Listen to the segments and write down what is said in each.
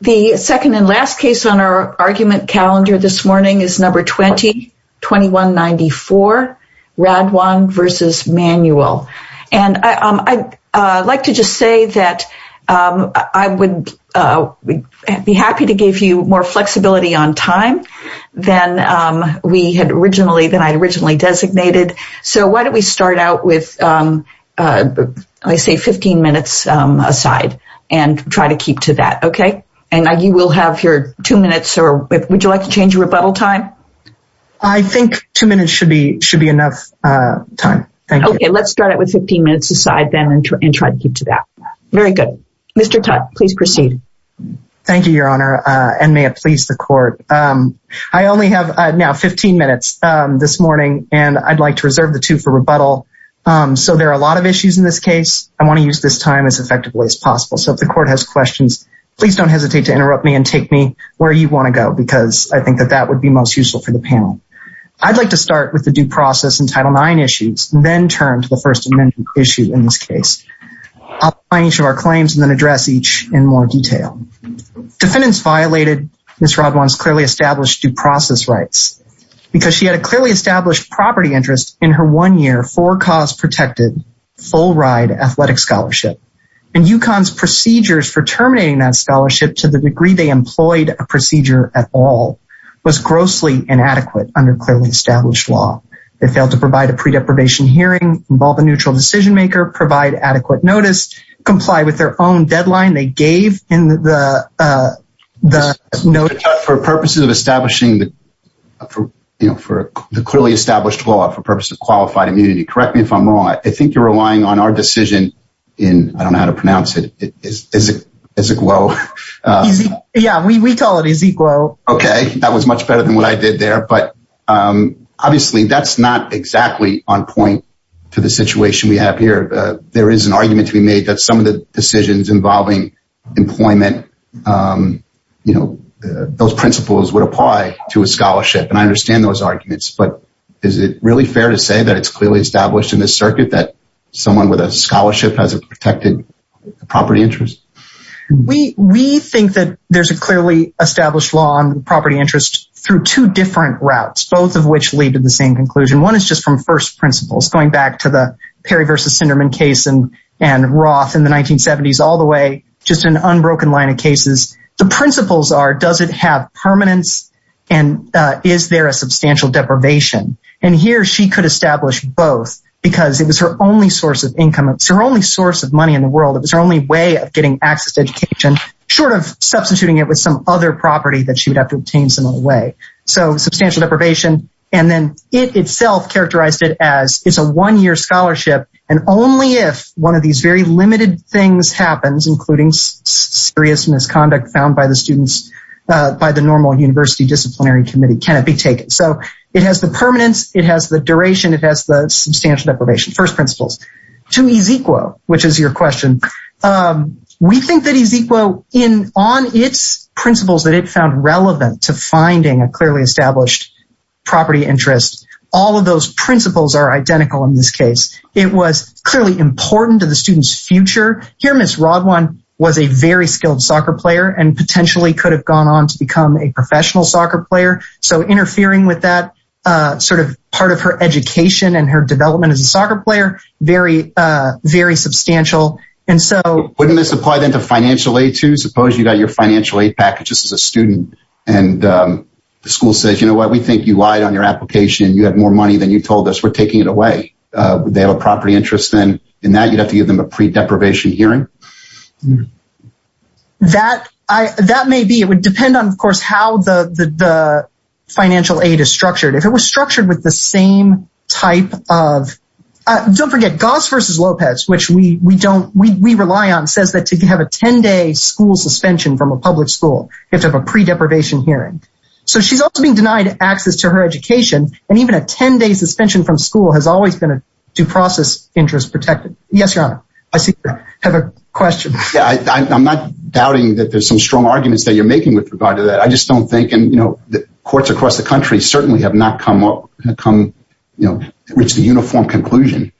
The second and last case on our argument calendar this morning is No. 20-2194, Radwan v. Manuel. And I'd like to just say that I would be happy to give you more flexibility on time than I had originally designated. So why don't we start out with, let's say, 15 minutes aside and try to keep to that, okay? And you will have your two minutes. Would you like to change your rebuttal time? I think two minutes should be enough time. Thank you. Okay, let's start out with 15 minutes aside then and try to keep to that. Very good. Mr. Tutte, please proceed. Thank you, Your Honor, and may it please the court. I only have now 15 minutes this morning, and I'd like to reserve the two for rebuttal. So there are a lot of issues in this case. I want to use this time as effectively as possible. So if the court has questions, please don't hesitate to interrupt me and take me where you want to go, because I think that that would be most useful for the panel. I'd like to start with the due process in Title IX issues, then turn to the First Amendment issue in this case. I'll outline each of our claims and then address each in more detail. Defendants violated Ms. Rodwan's clearly established due process rights because she had a clearly established property interest in her one-year, four-cause protected, full-ride athletic scholarship. And UConn's procedures for terminating that scholarship to the degree they employed a procedure at all was grossly inadequate under clearly established law. They failed to provide a pre-deprivation hearing, involve a neutral decision-maker, provide adequate notice, comply with their own deadline they gave in the notice. For purposes of establishing the clearly established law, for purposes of qualified immunity, correct me if I'm wrong. I think you're relying on our decision in, I don't know how to pronounce it, Ezequiel. Yeah, we call it Ezequiel. Okay, that was much better than what I did there. But obviously, that's not exactly on point to the situation we have here. There is an argument to be made that some of the decisions involving employment, you know, those principles would apply to a scholarship. And I understand those arguments. But is it really fair to say that it's clearly established in this circuit that someone with a scholarship has a protected property interest? We think that there's a clearly established law on property interest through two different routes, both of which lead to the same conclusion. One is just from first principles, going back to the Perry v. Sinderman case and Roth in the 1970s all the way, just an unbroken line of cases. The principles are does it have permanence, and is there a substantial deprivation? And here she could establish both because it was her only source of income. It's her only source of money in the world. It was her only way of getting access to education, short of substituting it with some other property that she would have to obtain some other way. So substantial deprivation. And then it itself characterized it as it's a one-year scholarship. And only if one of these very limited things happens, including serious misconduct found by the students, by the normal university disciplinary committee, can it be taken. So it has the permanence. It has the duration. It has the substantial deprivation. First principles. To Ezekiel, which is your question, we think that Ezekiel, on its principles that it found relevant to finding a clearly established property interest, all of those principles are identical in this case. It was clearly important to the student's future. Here, Ms. Rodwan was a very skilled soccer player and potentially could have gone on to become a professional soccer player. So interfering with that sort of part of her education and her development as a soccer player, very, very substantial. Wouldn't this apply then to financial aid too? Suppose you got your financial aid package just as a student and the school says, you know what, we think you lied on your application. You have more money than you told us. We're taking it away. They have a property interest in that. You'd have to give them a pre-deprivation hearing. That may be. It would depend on, of course, how the financial aid is structured. If it was structured with the same type of – don't forget, Goss versus Lopez, which we rely on, says that to have a 10-day school suspension from a public school, you have to have a pre-deprivation hearing. So she's also being denied access to her education, and even a 10-day suspension from school has always been a due process interest protected. Yes, Your Honor. I see you have a question. I'm not doubting that there's some strong arguments that you're making with regard to that. I just don't think – and courts across the country certainly have not come to reach the uniform conclusion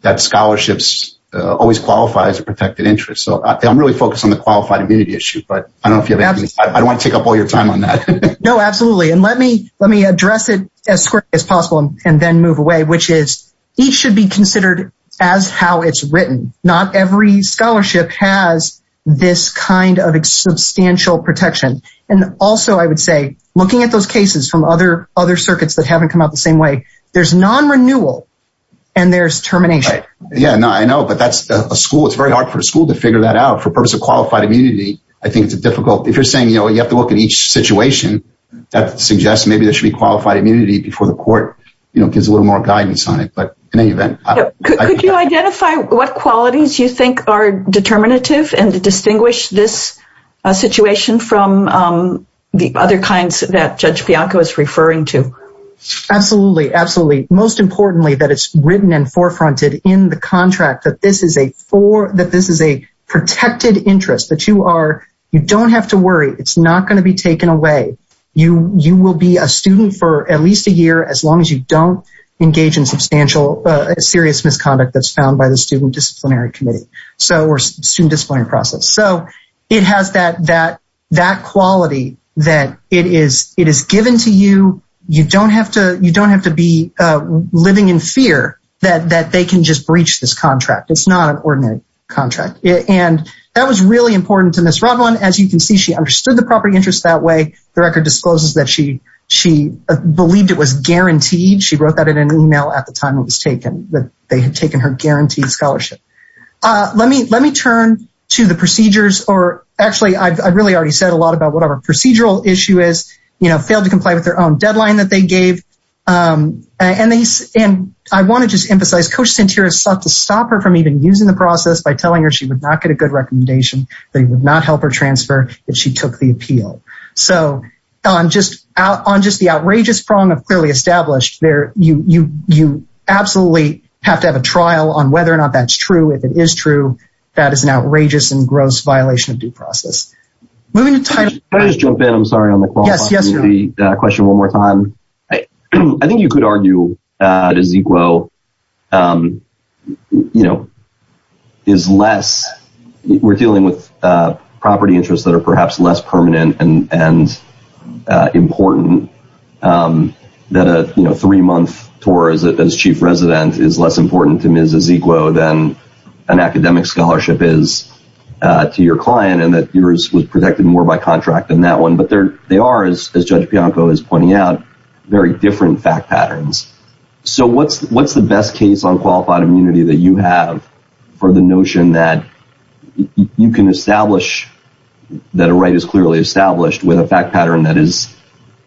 that scholarships always qualify as a protected interest. So I'm really focused on the qualified immunity issue, but I don't want to take up all your time on that. No, absolutely, and let me address it as quickly as possible and then move away, which is each should be considered as how it's written. Not every scholarship has this kind of substantial protection. And also, I would say, looking at those cases from other circuits that haven't come out the same way, there's non-renewal and there's termination. Yeah, I know, but that's a school. It's very hard for a school to figure that out. For the purpose of qualified immunity, I think it's difficult. If you're saying you have to look at each situation, that suggests maybe there should be qualified immunity before the court gives a little more guidance on it. But in any event – Could you identify what qualities you think are determinative and distinguish this situation from the other kinds that Judge Bianco is referring to? Absolutely, absolutely. Most importantly, that it's written and forefronted in the contract that this is a protected interest, that you don't have to worry. It's not going to be taken away. You will be a student for at least a year as long as you don't engage in substantial serious misconduct that's found by the student disciplinary committee or student disciplinary process. So it has that quality that it is given to you. You don't have to be living in fear that they can just breach this contract. It's not an ordinary contract. And that was really important to Ms. Roblin. As you can see, she understood the property interest that way. The record discloses that she believed it was guaranteed. She wrote that in an email at the time it was taken, that they had taken her guaranteed scholarship. Let me turn to the procedures. Actually, I've really already said a lot about what our procedural issue is. You know, failed to comply with their own deadline that they gave. And I want to just emphasize, Coach Santera sought to stop her from even using the process by telling her she would not get a good recommendation, that he would not help her transfer, that she took the appeal. So on just the outrageous prong of clearly established, you absolutely have to have a trial on whether or not that's true. If it is true, that is an outrageous and gross violation of due process. Can I just jump in, I'm sorry, on the question one more time? I think you could argue that Ezequiel is less – we're dealing with property interests that are perhaps less permanent and important. That a three-month tour as chief resident is less important to Ms. Ezequiel than an academic scholarship is to your client. And that yours was protected more by contract than that one. But they are, as Judge Bianco is pointing out, very different fact patterns. So what's the best case on qualified immunity that you have for the notion that you can establish that a right is clearly established with a fact pattern that is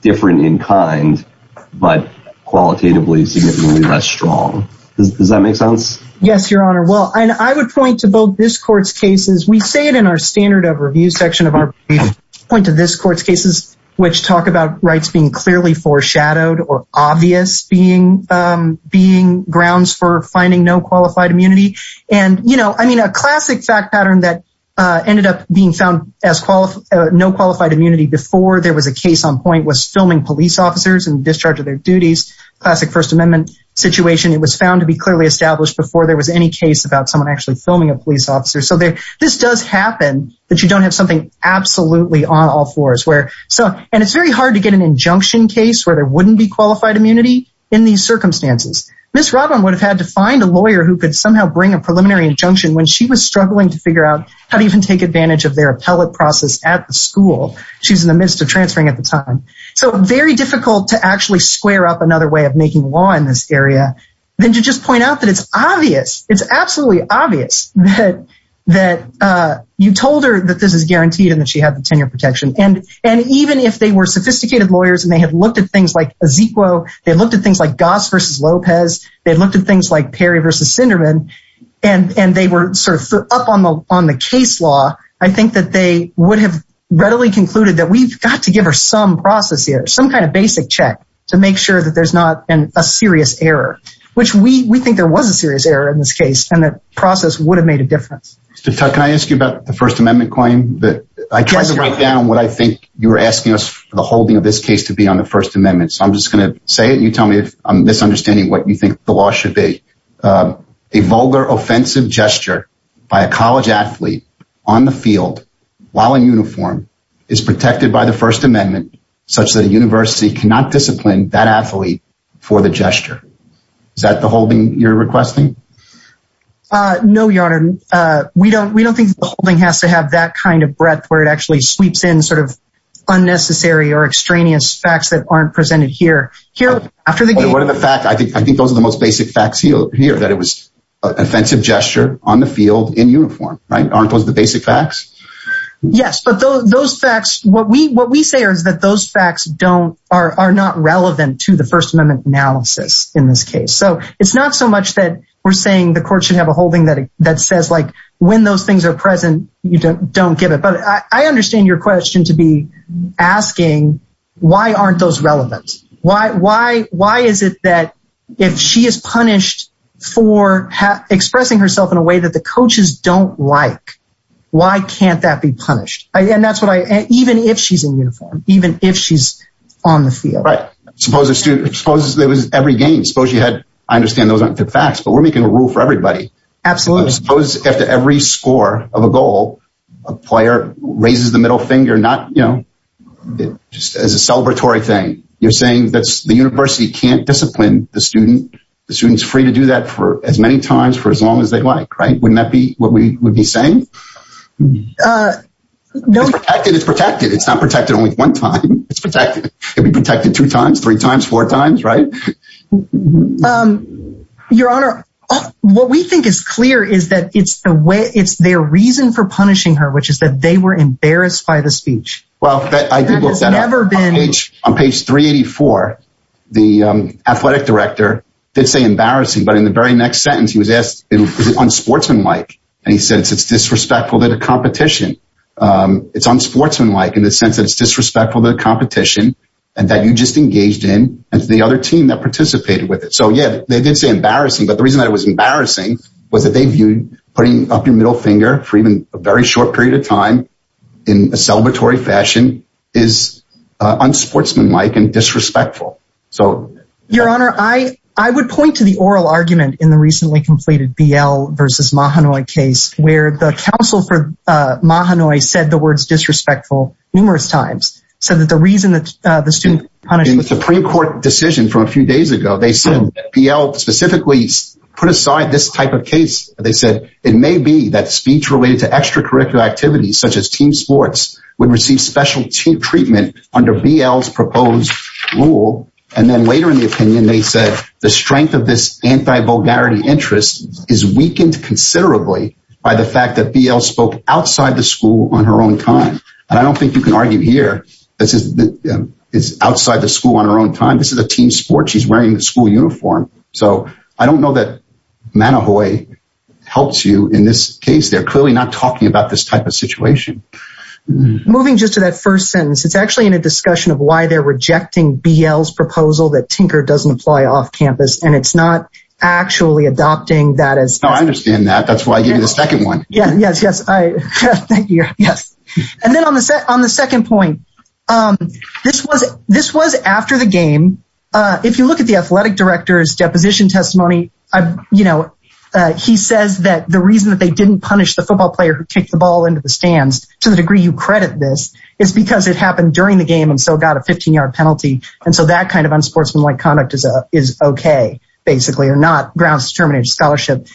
different in kind, but qualitatively significantly less strong? Does that make sense? Yes, Your Honor. Well, I would point to both this court's cases. We say it in our standard of review section of our briefs. We point to this court's cases, which talk about rights being clearly foreshadowed or obvious being grounds for finding no qualified immunity. And, you know, I mean, a classic fact pattern that ended up being found as no qualified immunity before there was a case on point was filming police officers in discharge of their duties. Classic First Amendment situation. It was found to be clearly established before there was any case about someone actually filming a police officer. So this does happen that you don't have something absolutely on all fours. And it's very hard to get an injunction case where there wouldn't be qualified immunity in these circumstances. Ms. Robyn would have had to find a lawyer who could somehow bring a preliminary injunction when she was struggling to figure out how to even take advantage of their appellate process at the school. She was in the midst of transferring at the time. So very difficult to actually square up another way of making law in this area than to just point out that it's obvious. It's absolutely obvious that you told her that this is guaranteed and that she had the tenure protection. And even if they were sophisticated lawyers and they had looked at things like Ezekiel, they looked at things like Goss versus Lopez, they looked at things like Perry versus Sinderman. And they were sort of up on the case law. I think that they would have readily concluded that we've got to give her some process here, some kind of basic check to make sure that there's not a serious error. Which we think there was a serious error in this case and the process would have made a difference. Mr. Tuck, can I ask you about the First Amendment claim? I tried to write down what I think you were asking us for the holding of this case to be on the First Amendment. So I'm just going to say it and you tell me if I'm misunderstanding what you think the law should be. A vulgar offensive gesture by a college athlete on the field while in uniform is protected by the First Amendment such that a university cannot discipline that athlete for the gesture. Is that the holding you're requesting? No, Your Honor. We don't think the holding has to have that kind of breadth where it actually sweeps in sort of unnecessary or extraneous facts that aren't presented here. I think those are the most basic facts here that it was an offensive gesture on the field in uniform. Aren't those the basic facts? Yes, but those facts, what we say is that those facts are not relevant to the First Amendment analysis in this case. So it's not so much that we're saying the court should have a holding that says like when those things are present, you don't give it. But I understand your question to be asking why aren't those relevant? Why is it that if she is punished for expressing herself in a way that the coaches don't like, why can't that be punished? And that's what I even if she's in uniform, even if she's on the field. Right. Suppose there was every game, suppose you had, I understand those aren't the facts, but we're making a rule for everybody. Absolutely. Suppose after every score of a goal, a player raises the middle finger not, you know, just as a celebratory thing. You're saying that the university can't discipline the student. The student's free to do that for as many times for as long as they like. Right. Wouldn't that be what we would be saying? It's protected. It's protected. It's not protected only one time. It's protected. It'd be protected two times, three times, four times. Right. Your Honor, what we think is clear is that it's the way it's their reason for punishing her, which is that they were embarrassed by the speech. Well, I think it's never been. On page 384, the athletic director did say embarrassing. But in the very next sentence, he was asked, is it unsportsmanlike? And he says it's disrespectful to the competition. It's unsportsmanlike in the sense that it's disrespectful to the competition and that you just engaged in as the other team that participated with it. So, yeah, they did say embarrassing. But the reason that it was embarrassing was that they viewed putting up your middle finger for even a very short period of time in a celebratory fashion is unsportsmanlike and disrespectful. Your Honor, I would point to the oral argument in the recently completed BL versus Mahanoy case where the counsel for Mahanoy said the words disrespectful numerous times. So that the reason that the student punished... In the Supreme Court decision from a few days ago, they said BL specifically put aside this type of case. They said it may be that speech related to extracurricular activities such as team sports would receive special treatment under BL's proposed rule. And then later in the opinion, they said the strength of this anti-vulgarity interest is weakened considerably by the fact that BL spoke outside the school on her own time. And I don't think you can argue here. This is outside the school on her own time. This is a team sport. She's wearing the school uniform. So I don't know that Mahanoy helps you in this case. They're clearly not talking about this type of situation. Moving just to that first sentence. It's actually in a discussion of why they're rejecting BL's proposal that Tinker doesn't apply off campus. And it's not actually adopting that as... No, I understand that. That's why I gave you the second one. Yes. Yes. Thank you. Yes. And then on the second point, this was after the game. If you look at the athletic director's deposition testimony, he says that the reason that they didn't punish the football player who kicked the ball into the stands to the degree you credit this is because it happened during the game and so got a 15-yard penalty. And so that kind of unsportsmanlike conduct is okay, basically, or not grounds to terminate a scholarship.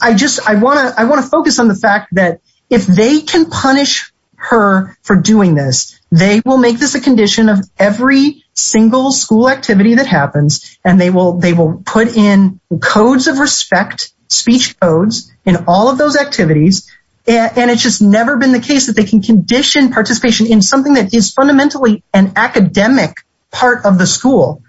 I want to focus on the fact that if they can punish her for doing this, they will make this a condition of every single school activity that happens. And they will put in codes of respect, speech codes in all of those activities. And it's just never been the case that they can condition participation in something that is fundamentally an academic part of the school.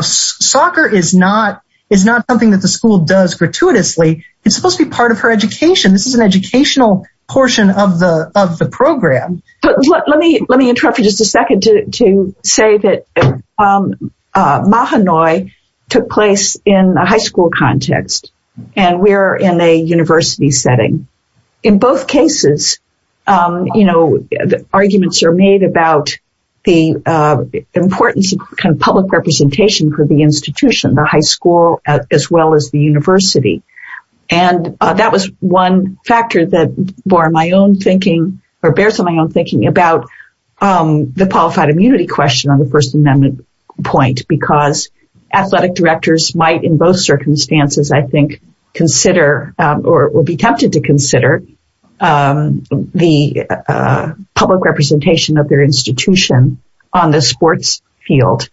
Soccer is not something that the school does gratuitously. It's supposed to be part of her education. This is an educational portion of the program. Let me interrupt for just a second to say that Mahanoy took place in a high school context, and we're in a university setting. In both cases, arguments are made about the importance of public representation for the institution, the high school, as well as the university. And that was one factor that bore my own thinking or bears on my own thinking about the qualified immunity question on the First Amendment point, because athletic directors might in both circumstances, I think, consider or will be tempted to consider the public representation of their institution on the sports field.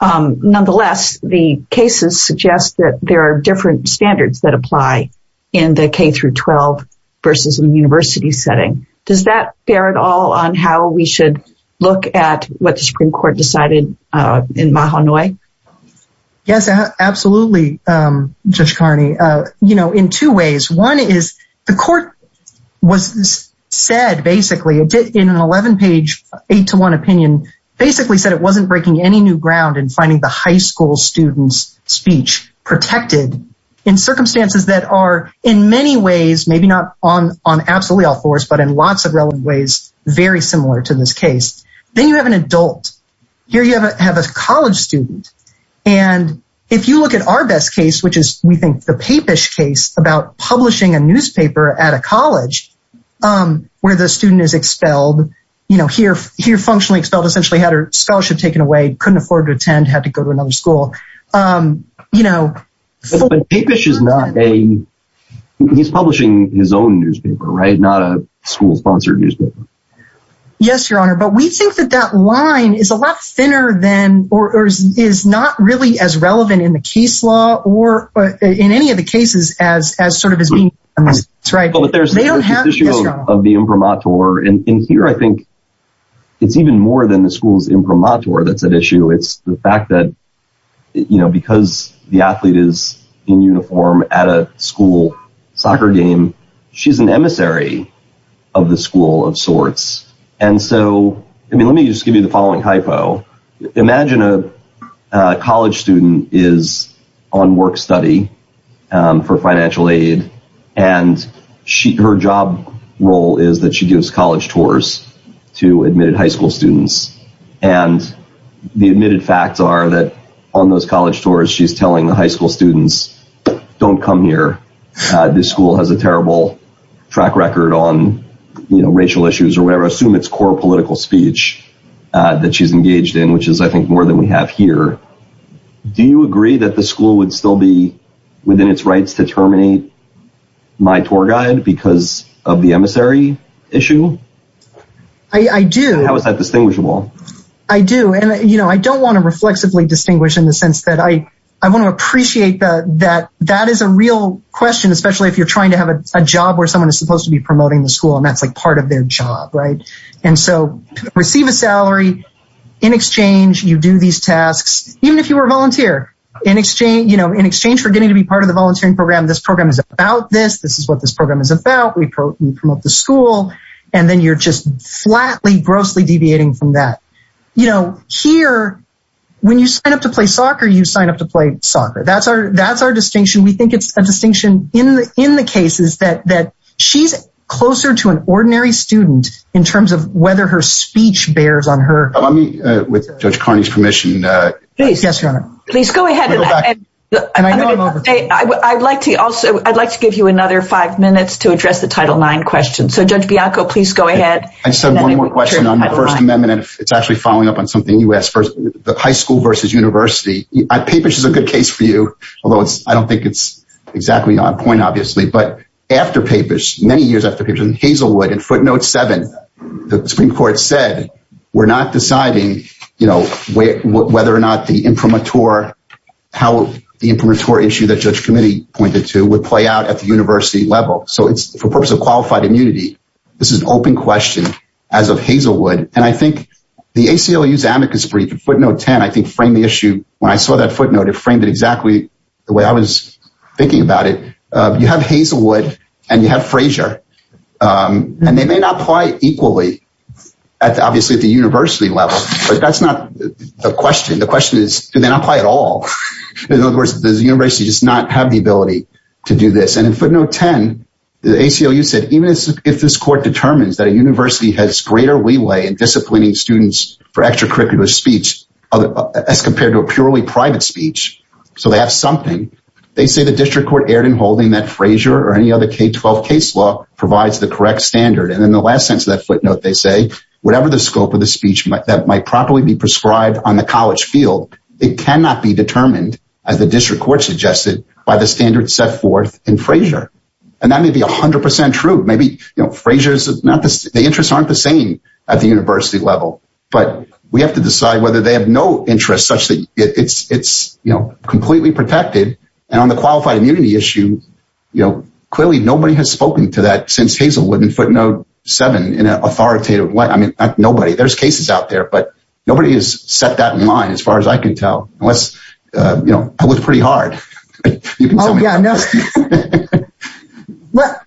Nonetheless, the cases suggest that there are different standards that apply in the K through 12 versus the university setting. Does that bear at all on how we should look at what the Supreme Court decided in Mahanoy? Yes, absolutely. Judge Carney, you know, in two ways. One is the court was said, basically, in an 11-page 8-to-1 opinion, basically said it wasn't breaking any new ground in finding the high school students' speech protected in circumstances that are in many ways, maybe not on absolutely all floors, but in lots of relevant ways, very similar to this case. Then you have an adult. Here you have a college student. And if you look at our best case, which is, we think, the Papish case about publishing a newspaper at a college where the student is expelled, you know, here functionally expelled, essentially had her scholarship taken away, couldn't afford to attend, had to go to another school, you know. But Papish is not a, he's publishing his own newspaper, right? Not a school-sponsored newspaper. Yes, Your Honor, but we think that that line is a lot thinner than, or is not really as relevant in the case law or in any of the cases as sort of as being, right? Well, but there's this issue of the imprimatur, and here I think it's even more than the school's imprimatur that's at issue. It's the fact that, you know, because the athlete is in uniform at a school soccer game, she's an emissary of the school of sorts. And so, I mean, let me just give you the following hypo. Imagine a college student is on work study for financial aid, and her job role is that she gives college tours to admitted high school students. And the admitted facts are that on those college tours, she's telling the high school students, don't come here. This school has a terrible track record on, you know, racial issues or whatever. Assume it's core political speech that she's engaged in, which is, I think, more than we have here. Do you agree that the school would still be within its rights to terminate my tour guide because of the emissary issue? I do. How is that distinguishable? I do. And, you know, I don't want to reflexively distinguish in the sense that I want to appreciate that that is a real question, especially if you're trying to have a job where someone is supposed to be promoting the school, and that's like part of their job, right? And so receive a salary. In exchange, you do these tasks, even if you were a volunteer. In exchange for getting to be part of the volunteering program, this program is about this. This is what this program is about. We promote the school. And then you're just flatly, grossly deviating from that. You know, here, when you sign up to play soccer, you sign up to play soccer. That's our distinction. We think it's a distinction in the cases that she's closer to an ordinary student in terms of whether her speech bears on her. With Judge Carney's permission. Yes, Your Honor. Please go ahead. And I know I'm over. I'd like to give you another five minutes to address the Title IX question. So, Judge Bianco, please go ahead. I just have one more question on the First Amendment. It's actually following up on something you asked first. The high school versus university. Papish is a good case for you, although I don't think it's exactly on point, obviously. But after Papish, many years after Papish and Hazelwood, in footnote seven, the Supreme Court said, we're not deciding, you know, whether or not the imprimatur, how the imprimatur issue that Judge Comittee pointed to would play out at the university level. So it's for purpose of qualified immunity. This is an open question as of Hazelwood. And I think the ACLU's amicus brief in footnote 10, I think, framed the issue. When I saw that footnote, it framed it exactly the way I was thinking about it. You have Hazelwood and you have Frazier. And they may not apply equally, obviously, at the university level. But that's not the question. The question is, do they not apply at all? In other words, does the university just not have the ability to do this? And in footnote 10, the ACLU said, even if this court determines that a university has greater leeway in disciplining students for extracurricular speech as compared to a purely private speech, so they have something, they say the district court erred in holding that Frazier or any other K-12 case law provides the correct standard. And in the last sentence of that footnote, they say, whatever the scope of the speech that might properly be prescribed on the college field, it cannot be determined, as the district court suggested, by the standard set forth in Frazier. And that may be 100% true. Maybe Frazier's interests aren't the same at the university level. But we have to decide whether they have no interest such that it's completely protected. And on the qualified immunity issue, clearly nobody has spoken to that since Hazelwood in footnote 7 in an authoritative way. I mean, nobody, there's cases out there, but nobody has set that in line as far as I can tell. Unless, you know, I look pretty hard. Oh, yeah, no.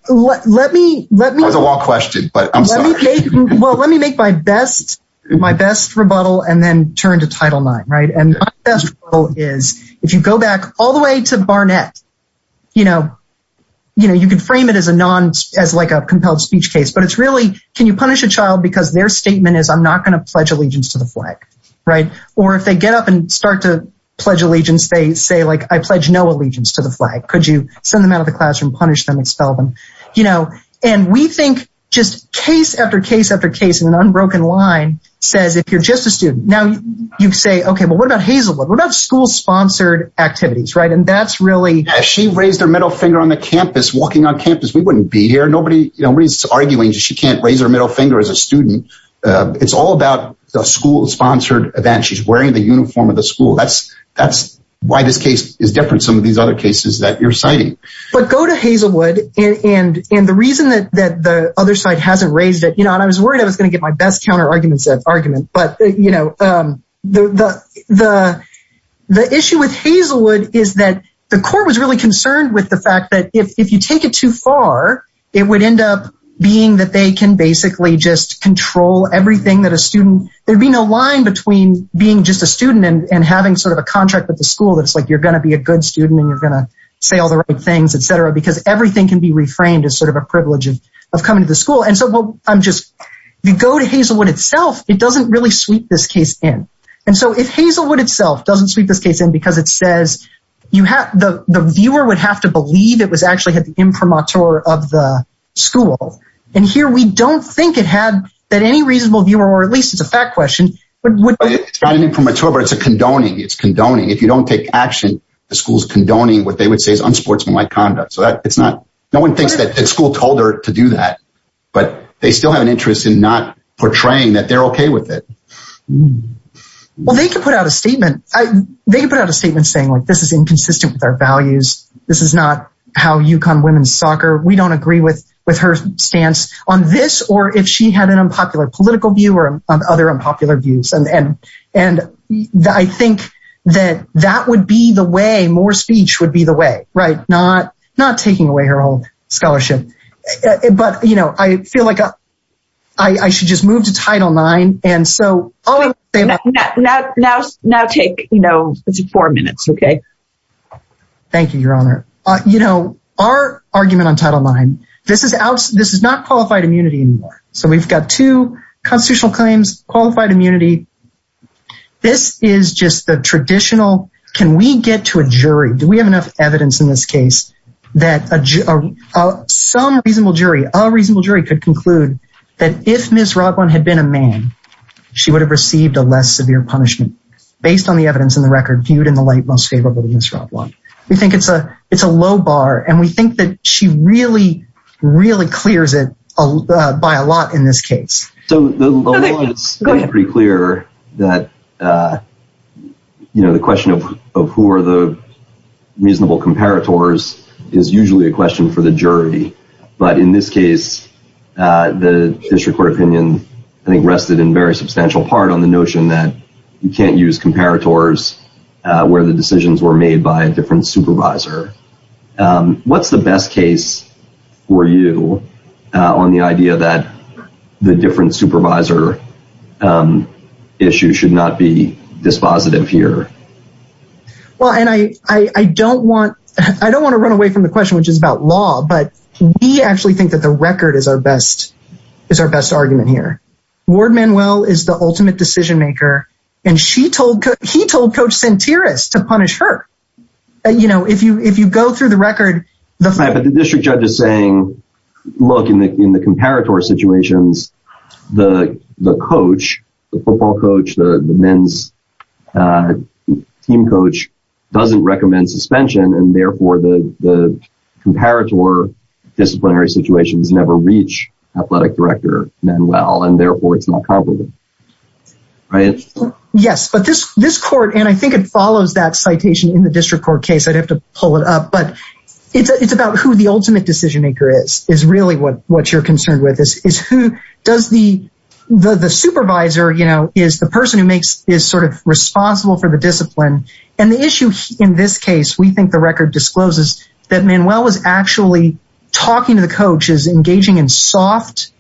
Let me, let me. That was a long question, but I'm sorry. Well, let me make my best, my best rebuttal and then turn to title nine, right? And my best rebuttal is, if you go back all the way to Barnett, you know, you know, you can frame it as a non, as like a compelled speech case. But it's really, can you punish a child because their statement is I'm not going to pledge allegiance to the flag, right? Or if they get up and start to pledge allegiance, they say, like, I pledge no allegiance to the flag. Could you send them out of the classroom, punish them, expel them? You know, and we think just case after case after case in an unbroken line says, if you're just a student now, you say, OK, well, what about Hazelwood? What about school sponsored activities? Right. And that's really. She raised her middle finger on the campus walking on campus. We wouldn't be here. Nobody is arguing. She can't raise her middle finger as a student. It's all about the school sponsored event. She's wearing the uniform of the school. That's that's why this case is different. Some of these other cases that you're citing. But go to Hazelwood. And the reason that the other side hasn't raised it, you know, and I was worried I was going to get my best counter arguments of argument. But, you know, the the the issue with Hazelwood is that the court was really concerned with the fact that if you take it too far, it would end up being that they can basically just control everything that a student. There'd be no line between being just a student and having sort of a contract with the school. That's like you're going to be a good student and you're going to say all the right things, et cetera, because everything can be reframed as sort of a privilege of coming to the school. And so I'm just you go to Hazelwood itself. It doesn't really sweep this case in. And so if Hazelwood itself doesn't sweep this case in because it says you have the viewer would have to believe it was actually had the imprimatur of the school. And here we don't think it had that any reasonable viewer or at least it's a fact question. But it's not an imprimatur, but it's a condoning. It's condoning. If you don't take action, the school's condoning what they would say is unsportsmanlike conduct. So it's not no one thinks that school told her to do that, but they still have an interest in not portraying that they're OK with it. Well, they can put out a statement. They put out a statement saying, look, this is inconsistent with our values. This is not how you come women's soccer. We don't agree with with her stance on this or if she had an unpopular political view or other unpopular views. And I think that that would be the way more speech would be the way. Right. Not not taking away her old scholarship. But, you know, I feel like I should just move to Title nine. And so now now now take, you know, four minutes. OK, thank you, Your Honor. You know, our argument on Title nine. This is out. This is not qualified immunity. So we've got two constitutional claims, qualified immunity. This is just the traditional. Can we get to a jury? Do we have enough evidence in this case that some reasonable jury, a reasonable jury could conclude that if Ms. Robyn had been a man, she would have received a less severe punishment based on the evidence in the record viewed in the light most favorable to Ms. Robyn. We think it's a it's a low bar. And we think that she really, really clears it by a lot in this case. So it's pretty clear that, you know, the question of of who are the reasonable comparators is usually a question for the jury. But in this case, the district court opinion, I think, rested in very substantial part on the notion that you can't use comparators where the decisions were made by a different supervisor. What's the best case for you on the idea that the different supervisor issue should not be dispositive here? Well, and I don't want I don't want to run away from the question, which is about law. But we actually think that the record is our best is our best argument here. Ward Manuel is the ultimate decision maker. And she told he told Coach Santerios to punish her. You know, if you if you go through the record, the district judge is saying, look, in the in the comparator situations, the the coach, the football coach, the men's team coach doesn't recommend suspension. And therefore, the comparator disciplinary situations never reach athletic director Manuel. Yes, but this this court and I think it follows that citation in the district court case, I'd have to pull it up. But it's about who the ultimate decision maker is, is really what what you're concerned with. This is who does the the supervisor, you know, is the person who makes is sort of responsible for the discipline. And the issue in this case, we think the record discloses that Manuel was actually talking to the coaches, engaging in soft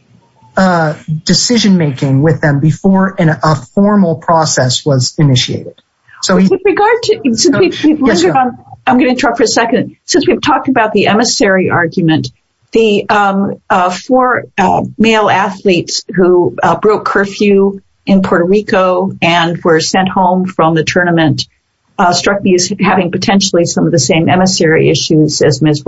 decision making with them before a formal process was initiated. I'm going to talk for a second. Since we've talked about the emissary argument, the four male athletes who broke curfew in Puerto Rico and were sent home from the tournament struck me as having potentially some of the same emissary issues as Ms.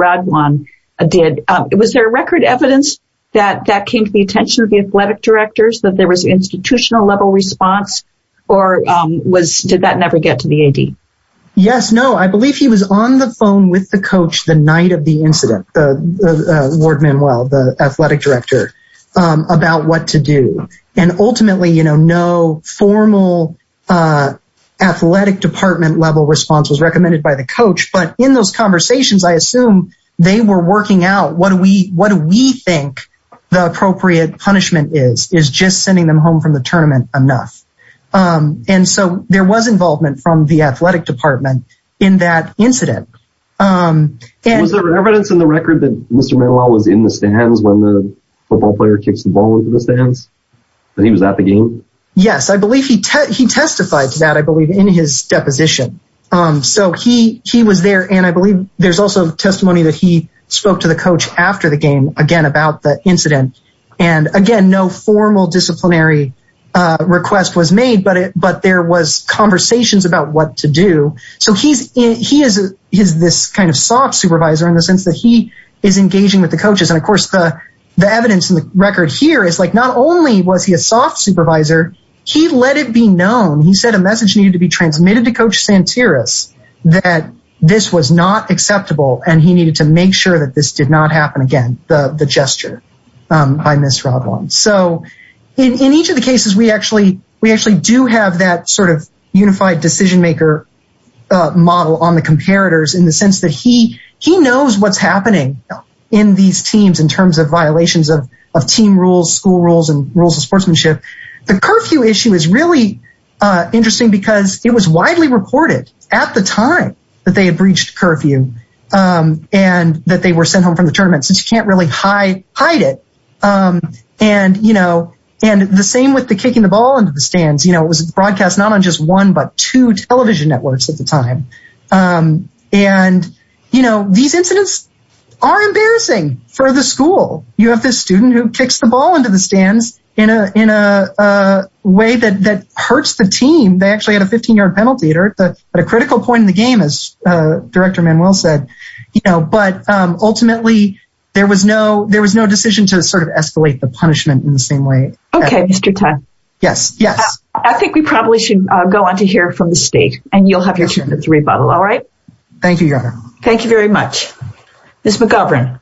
Yes, no, I believe he was on the phone with the coach the night of the incident, the word Manuel, the athletic director, about what to do. And ultimately, you know, no formal athletic department level response was recommended by the coach. But in those conversations, I assume they were working out what do we what do we think the appropriate punishment is, is just sending them home from the tournament enough. And so there was involvement from the athletic department in that incident. And there was evidence in the record that Mr. Manuel was in the stands when the football player kicks the ball into the stands. And he was at the game. Yes, I believe he he testified to that, I believe, in his deposition. So he he was there. And I believe there's also testimony that he spoke to the coach after the game again about the incident. And again, no formal disciplinary request was made. But but there was conversations about what to do. So he's he is he's this kind of soft supervisor in the sense that he is engaging with the coaches. And of course, the the evidence in the record here is like not only was he a soft supervisor, he let it be known. He said a message needed to be transmitted to Coach Santeros that this was not acceptable. And he needed to make sure that this did not happen again. The gesture by Miss Roblon. So in each of the cases, we actually we actually do have that sort of unified decision maker model on the comparators in the sense that he he knows what's happening in these teams in terms of violations of team rules, school rules and rules of sportsmanship. The curfew issue is really interesting because it was widely reported at the time that they had breached curfew and that they were sent home from the tournament since you can't really hide hide it. And, you know, and the same with the kicking the ball into the stands. You know, it was broadcast not on just one, but two television networks at the time. And, you know, these incidents are embarrassing for the school. You have this student who kicks the ball into the stands in a in a way that that hurts the team. They actually had a 15 yard penalty at a critical point in the game, as Director Manuel said. You know, but ultimately, there was no there was no decision to sort of escalate the punishment in the same way. OK, Mr. Yes. Yes. I think we probably should go on to hear from the state and you'll have your three bottle. All right. Thank you. Thank you very much. Ms. McGovern.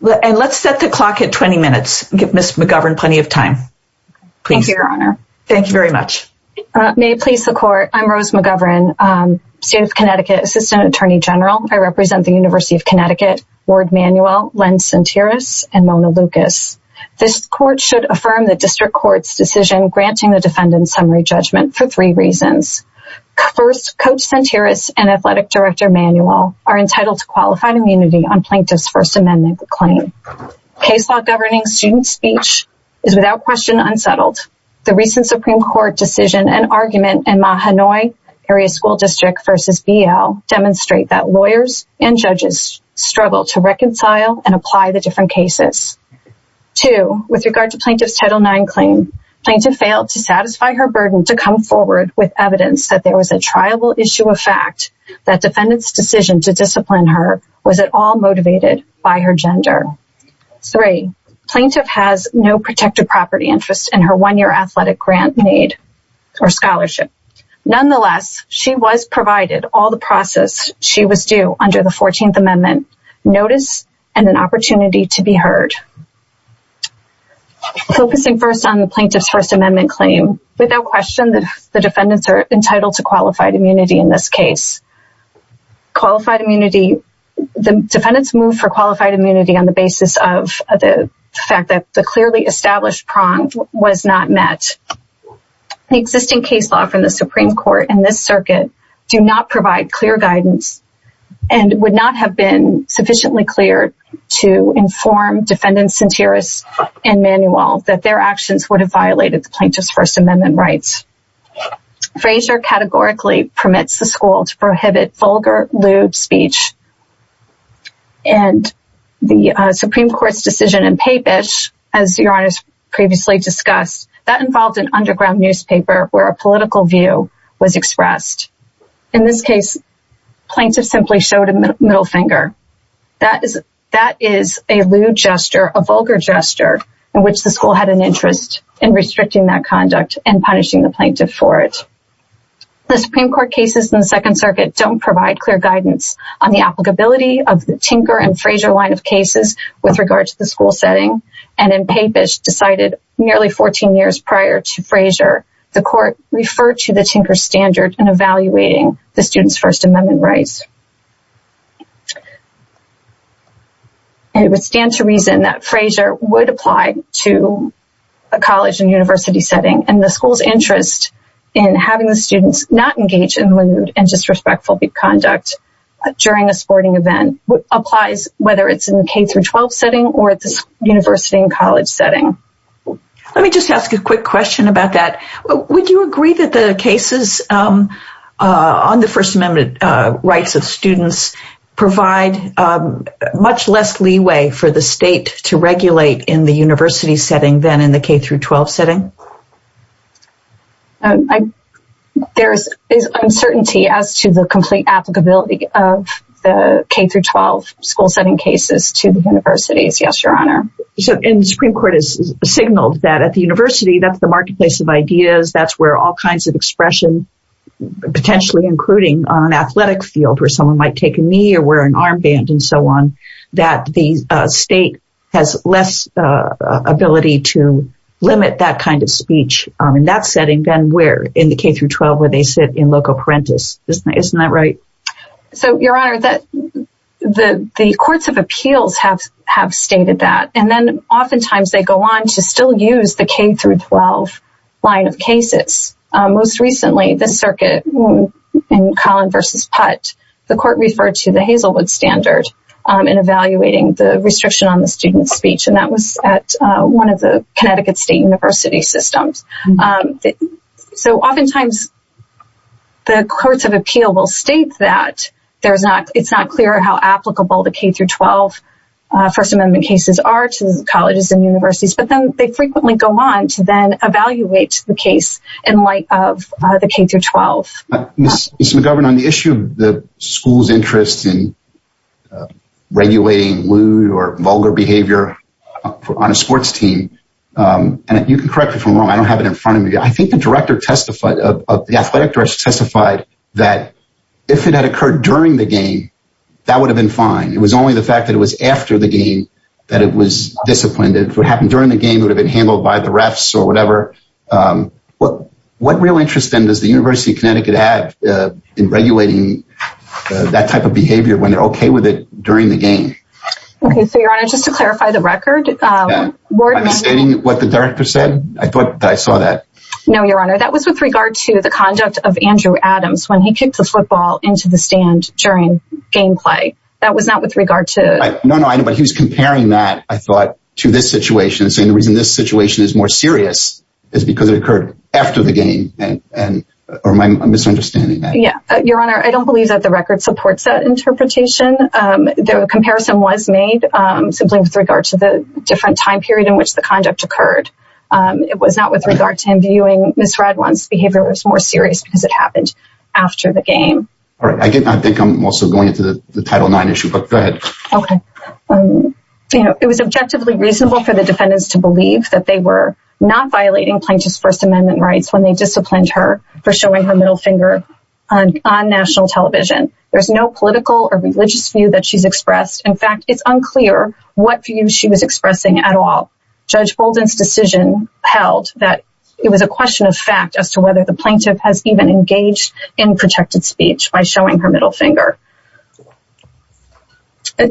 And let's set the clock at 20 minutes. Give Ms. McGovern plenty of time. Please. Your Honor. Thank you very much. May it please the court. I'm Rose McGovern, state of Connecticut, assistant attorney general. I represent the University of Connecticut, Ward Manuel, Len Santerios and Mona Lucas. This court should affirm the district court's decision granting the defendant summary judgment for three reasons. First, Coach Santerios and Athletic Director Manuel are entitled to qualified immunity on Plaintiff's First Amendment claim. Case law governing student speech is without question unsettled. The recent Supreme Court decision and argument in Mahanoy Area School District versus BL demonstrate that lawyers and judges struggle to reconcile and apply the different cases. Two, with regard to Plaintiff's Title IX claim, Plaintiff failed to satisfy her burden to come forward with evidence that there was a triable issue of fact that defendant's decision to discipline her was at all motivated by her gender. Three, Plaintiff has no protected property interest in her one-year athletic grant need or scholarship. Nonetheless, she was provided all the process she was due under the 14th Amendment notice and an opportunity to be heard. Focusing first on the Plaintiff's First Amendment claim, without question the defendants are entitled to qualified immunity in this case. Qualified immunity, the defendants moved for qualified immunity on the basis of the fact that the clearly established prong was not met. The existing case law from the Supreme Court and this circuit do not provide clear guidance and would not have been sufficiently clear to inform defendants and jurists and Manuel that their actions would have violated the Plaintiff's First Amendment rights. Fraser categorically permits the school to prohibit vulgar, lewd speech and the Supreme Court's decision in Papish, as Your Honor has previously discussed, that involved an underground newspaper where a political view was expressed. In this case, Plaintiff simply showed a middle finger. That is a lewd gesture, a vulgar gesture, in which the school had an interest in restricting that conduct and punishing the Plaintiff for it. The Supreme Court cases in the Second Circuit don't provide clear guidance on the applicability of the Tinker and Fraser line of cases with regard to the school setting and in Papish, decided nearly 14 years prior to Fraser, the court referred to the Tinker standard in evaluating the student's First Amendment rights. It would stand to reason that Fraser would apply to a college and university setting and the school's interest in having the students not engage in lewd and disrespectful conduct during a sporting event applies whether it's in the K-12 setting or the university and college setting. Let me just ask a quick question about that. Would you agree that the cases on the First Amendment rights of students provide much less leeway for the state to regulate in the university setting than in the K-12 setting? There is uncertainty as to the complete applicability of the K-12 school setting cases to the universities, yes, Your Honor. And the Supreme Court has signaled that at the university, that's the marketplace of ideas, that's where all kinds of expression, potentially including on an athletic field where someone might take a knee or wear an armband and so on, that the state has less ability to limit that kind of speech in that setting than where in the K-12 where they sit in loco parentis. Isn't that right? So, Your Honor, the courts of appeals have stated that and then oftentimes they go on to still use the K-12 line of cases. Most recently, the circuit in Collin v. Putt, the court referred to the Hazelwood standard in evaluating the restriction on the student's speech and that was at one of the Connecticut State University systems. So oftentimes the courts of appeal will state that it's not clear how applicable the K-12 First Amendment cases are to colleges and universities, but then they frequently go on to then evaluate the case in light of the K-12. Ms. McGovern, on the issue of the school's interest in regulating lewd or vulgar behavior on a sports team, and you can correct me if I'm wrong, I don't have it in front of me, I think the athletic director testified that if it had occurred during the game, that would have been fine. It was only the fact that it was after the game that it was disciplined. If it happened during the game, it would have been handled by the refs or whatever. What real interest then does the University of Connecticut have in regulating that type of behavior when they're okay with it during the game? Okay, so, Your Honor, just to clarify the record. Am I misstating what the director said? I thought that I saw that. No, Your Honor, that was with regard to the conduct of Andrew Adams when he kicked the football into the stand during gameplay. That was not with regard to... No, no, I know, but he was comparing that, I thought, to this situation, saying the reason this situation is more serious is because it occurred after the game, or am I misunderstanding that? Yeah, Your Honor, I don't believe that the record supports that interpretation. The comparison was made simply with regard to the different time period in which the conduct occurred. It was not with regard to him viewing Ms. Radwan's behavior as more serious because it happened after the game. All right, I think I'm also going into the Title IX issue, but go ahead. Okay. It was objectively reasonable for the defendants to believe that they were not violating Plaintiff's First Amendment rights when they disciplined her for showing her middle finger on national television. There's no political or religious view that she's expressed. In fact, it's unclear what view she was expressing at all. Judge Bolden's decision held that it was a question of fact as to whether the plaintiff has even engaged in protected speech by showing her middle finger.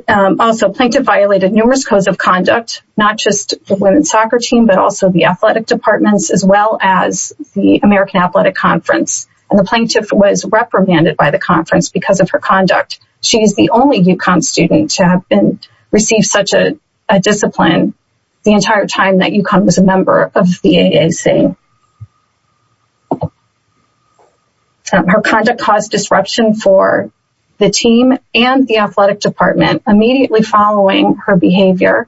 Also, Plaintiff violated numerous codes of conduct, not just the women's soccer team, but also the athletic departments, as well as the American Athletic Conference. And the plaintiff was reprimanded by the conference because of her conduct. She is the only UConn student to have received such a discipline the entire time that UConn was a member of the AAC. Her conduct caused disruption for the team and the athletic department. Immediately following her behavior,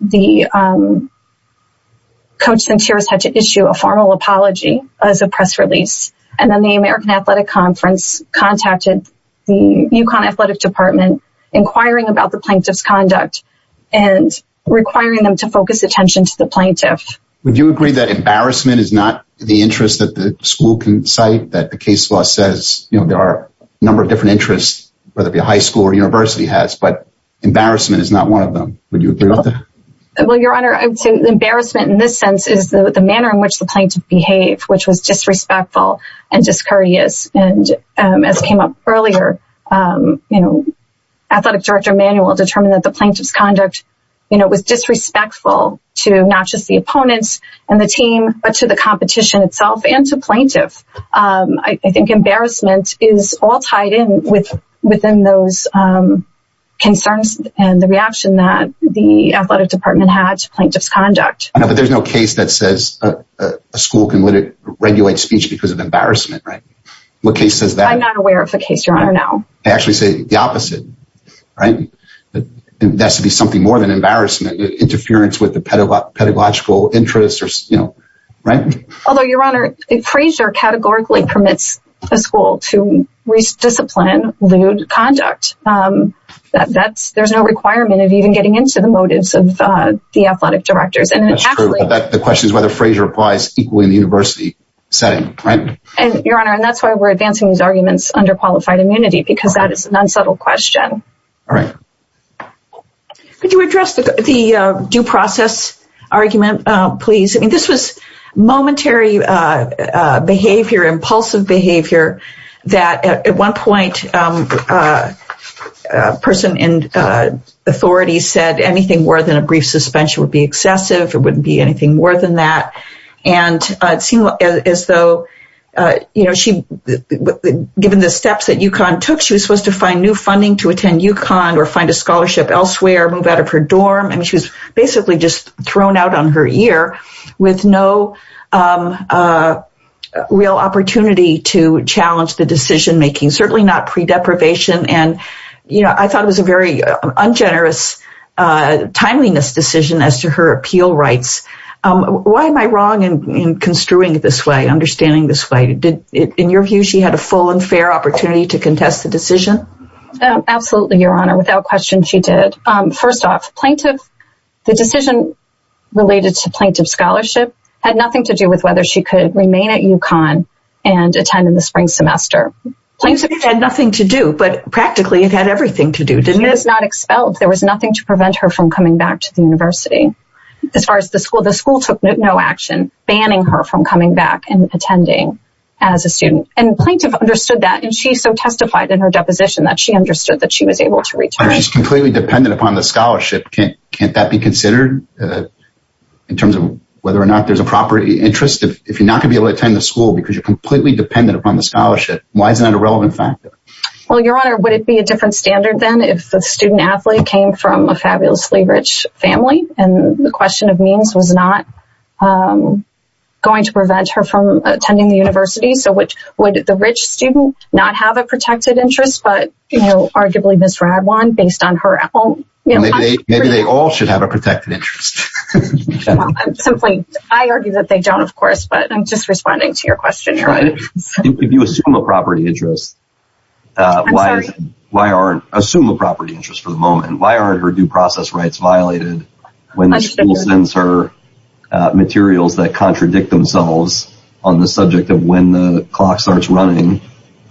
the coach had to issue a formal apology as a press release. And then the American Athletic Conference contacted the UConn athletic department inquiring about the plaintiff's conduct and requiring them to focus attention to the plaintiff. Would you agree that embarrassment is not the interest that the school can cite, that the case law says there are a number of different interests, whether it be a high school or university has, but embarrassment is not one of them? Would you agree with that? Well, Your Honor, embarrassment in this sense is the manner in which the plaintiff behaved, which was disrespectful and discourteous. And as came up earlier, you know, Athletic Director Manuel determined that the plaintiff's conduct was disrespectful to not just the opponents and the team, but to the competition itself and to plaintiff. I think embarrassment is all tied in with within those concerns and the reaction that the athletic department had to plaintiff's conduct. I know, but there's no case that says a school can regulate speech because of embarrassment, right? What case says that? I'm not aware of a case, Your Honor, no. I actually say the opposite, right? That's to be something more than embarrassment, interference with the pedagogical interests or, you know, right? Although, Your Honor, Frazier categorically permits a school to re-discipline lewd conduct. There's no requirement of even getting into the motives of the athletic directors. The question is whether Frazier applies equally in the university setting, right? Your Honor, and that's why we're advancing these arguments under qualified immunity, because that is an unsubtle question. All right. Could you address the due process argument, please? I mean, this was momentary behavior, impulsive behavior that at one point a person in authority said anything more than a brief suspension would be excessive. It wouldn't be anything more than that. And it seemed as though, you know, given the steps that UConn took, she was supposed to find new funding to attend UConn or find a scholarship elsewhere, move out of her dorm. I mean, she was basically just thrown out on her ear with no real opportunity to challenge the decision making, certainly not pre-deprivation. And, you know, I thought it was a very ungenerous timeliness decision as to her appeal rights. Why am I wrong in construing it this way, understanding this way? In your view, she had a full and fair opportunity to contest the decision? Absolutely, Your Honor. Without question, she did. First off, the decision related to plaintiff scholarship had nothing to do with whether she could remain at UConn and attend in the spring semester. It had nothing to do, but practically it had everything to do, didn't it? She was not expelled. There was nothing to prevent her from coming back to the university. As far as the school, the school took no action, banning her from coming back and attending as a student. And plaintiff understood that, and she so testified in her deposition that she understood that she was able to return. She's completely dependent upon the scholarship. Can't that be considered in terms of whether or not there's a proper interest? If you're not going to be able to attend the school because you're completely dependent upon the scholarship, why isn't that a relevant factor? Well, Your Honor, would it be a different standard then if the student-athlete came from a fabulously rich family, and the question of means was not going to prevent her from attending the university? So would the rich student not have a protected interest, but arguably Ms. Radwan, based on her... Maybe they all should have a protected interest. I argue that they don't, of course, but I'm just responding to your question, Your Honor. If you assume a property interest... I'm sorry. Assume a property interest for the moment. Why aren't her due process rights violated when the school sends her materials that contradict themselves on the subject of when the clock starts running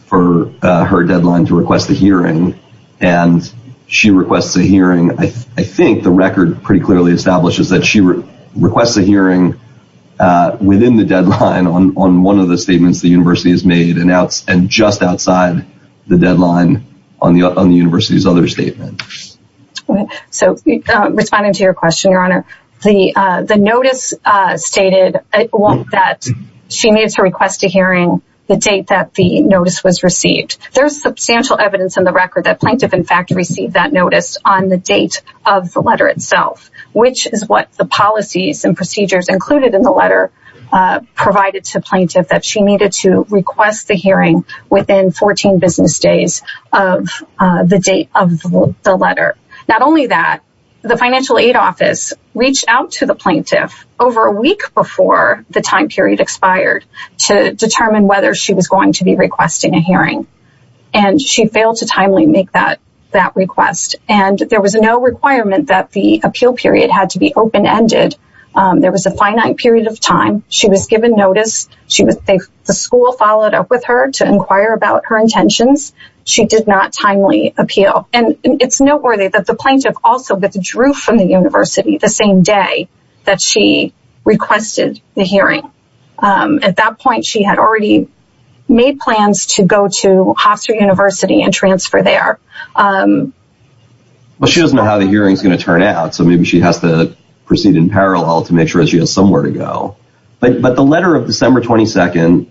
for her deadline to request a hearing, and she requests a hearing. I think the record pretty clearly establishes that she requests a hearing within the deadline on one of the statements the university has made, and just outside the deadline on the university's other statement. Responding to your question, Your Honor, the notice stated that she needs to request a hearing the date that the notice was received. There's substantial evidence in the record that Plaintiff, in fact, received that notice on the date of the letter itself, which is what the policies and procedures included in the letter provided to Plaintiff, that she needed to request the hearing within 14 business days of the date of the letter. Not only that, the Financial Aid Office reached out to the Plaintiff over a week before the time period expired to determine whether she was going to be requesting a hearing, and she failed to timely make that request. And there was no requirement that the appeal period had to be open-ended. There was a finite period of time. She was given notice. The school followed up with her to inquire about her intentions. She did not timely appeal, and it's noteworthy that the Plaintiff also withdrew from the university the same day that she requested the hearing. At that point, she had already made plans to go to Hofstra University and transfer there. But she doesn't know how the hearing is going to turn out, so maybe she has to proceed in parallel to make sure she has somewhere to go. But the letter of December 22nd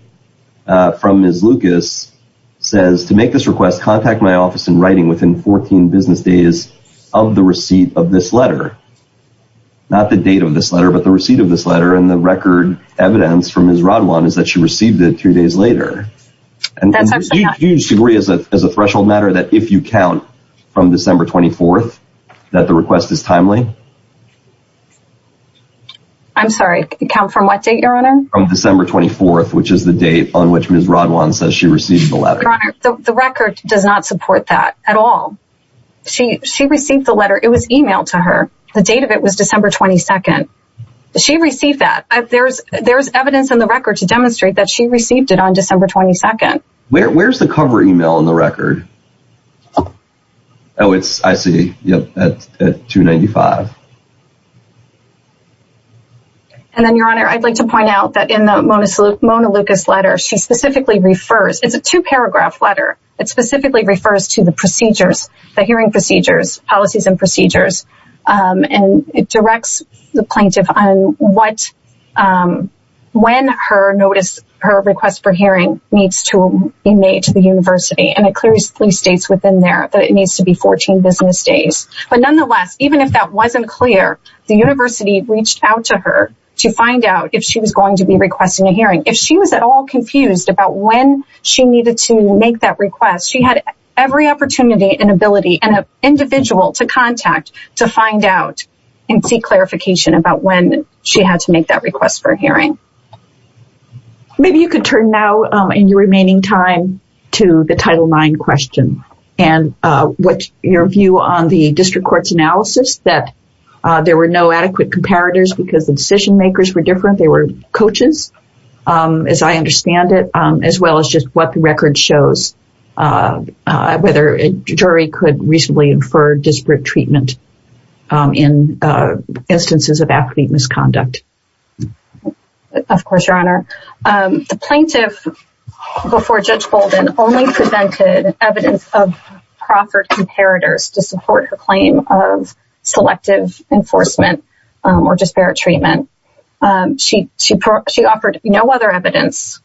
from Ms. Lucas says, to make this request, contact my office in writing within 14 business days of the receipt of this letter. Not the date of this letter, but the receipt of this letter, and the record evidence from Ms. Radwan is that she received it two days later. Do you disagree as a threshold matter that if you count from December 24th that the request is timely? I'm sorry, count from what date, Your Honor? From December 24th, which is the date on which Ms. Radwan says she received the letter. Your Honor, the record does not support that at all. She received the letter. It was emailed to her. The date of it was December 22nd. She received that. There's evidence in the record to demonstrate that she received it on December 22nd. Where's the cover email in the record? Oh, I see. At 295. And then, Your Honor, I'd like to point out that in the Mona Lucas letter, she specifically refers, it's a two-paragraph letter, it specifically refers to the procedures, the hearing procedures, policies and procedures, and it directs the plaintiff on when her request for hearing needs to be made to the university, and it clearly states within there that it needs to be 14 business days. But nonetheless, even if that wasn't clear, the university reached out to her to find out if she was going to be requesting a hearing. If she was at all confused about when she needed to make that request, she had every opportunity and ability and an individual to contact to find out and seek clarification about when she had to make that request for a hearing. Maybe you could turn now in your remaining time to the Title IX question and what's your view on the district court's analysis that there were no adequate comparators because the decision makers were different, they were coaches, as I understand it, as well as just what the record shows, whether a jury could reasonably infer disparate treatment in instances of affidavit misconduct. Of course, Your Honor. The plaintiff, before Judge Bolden, only presented evidence of proffered comparators to support her claim of selective enforcement or disparate treatment. She offered no other evidence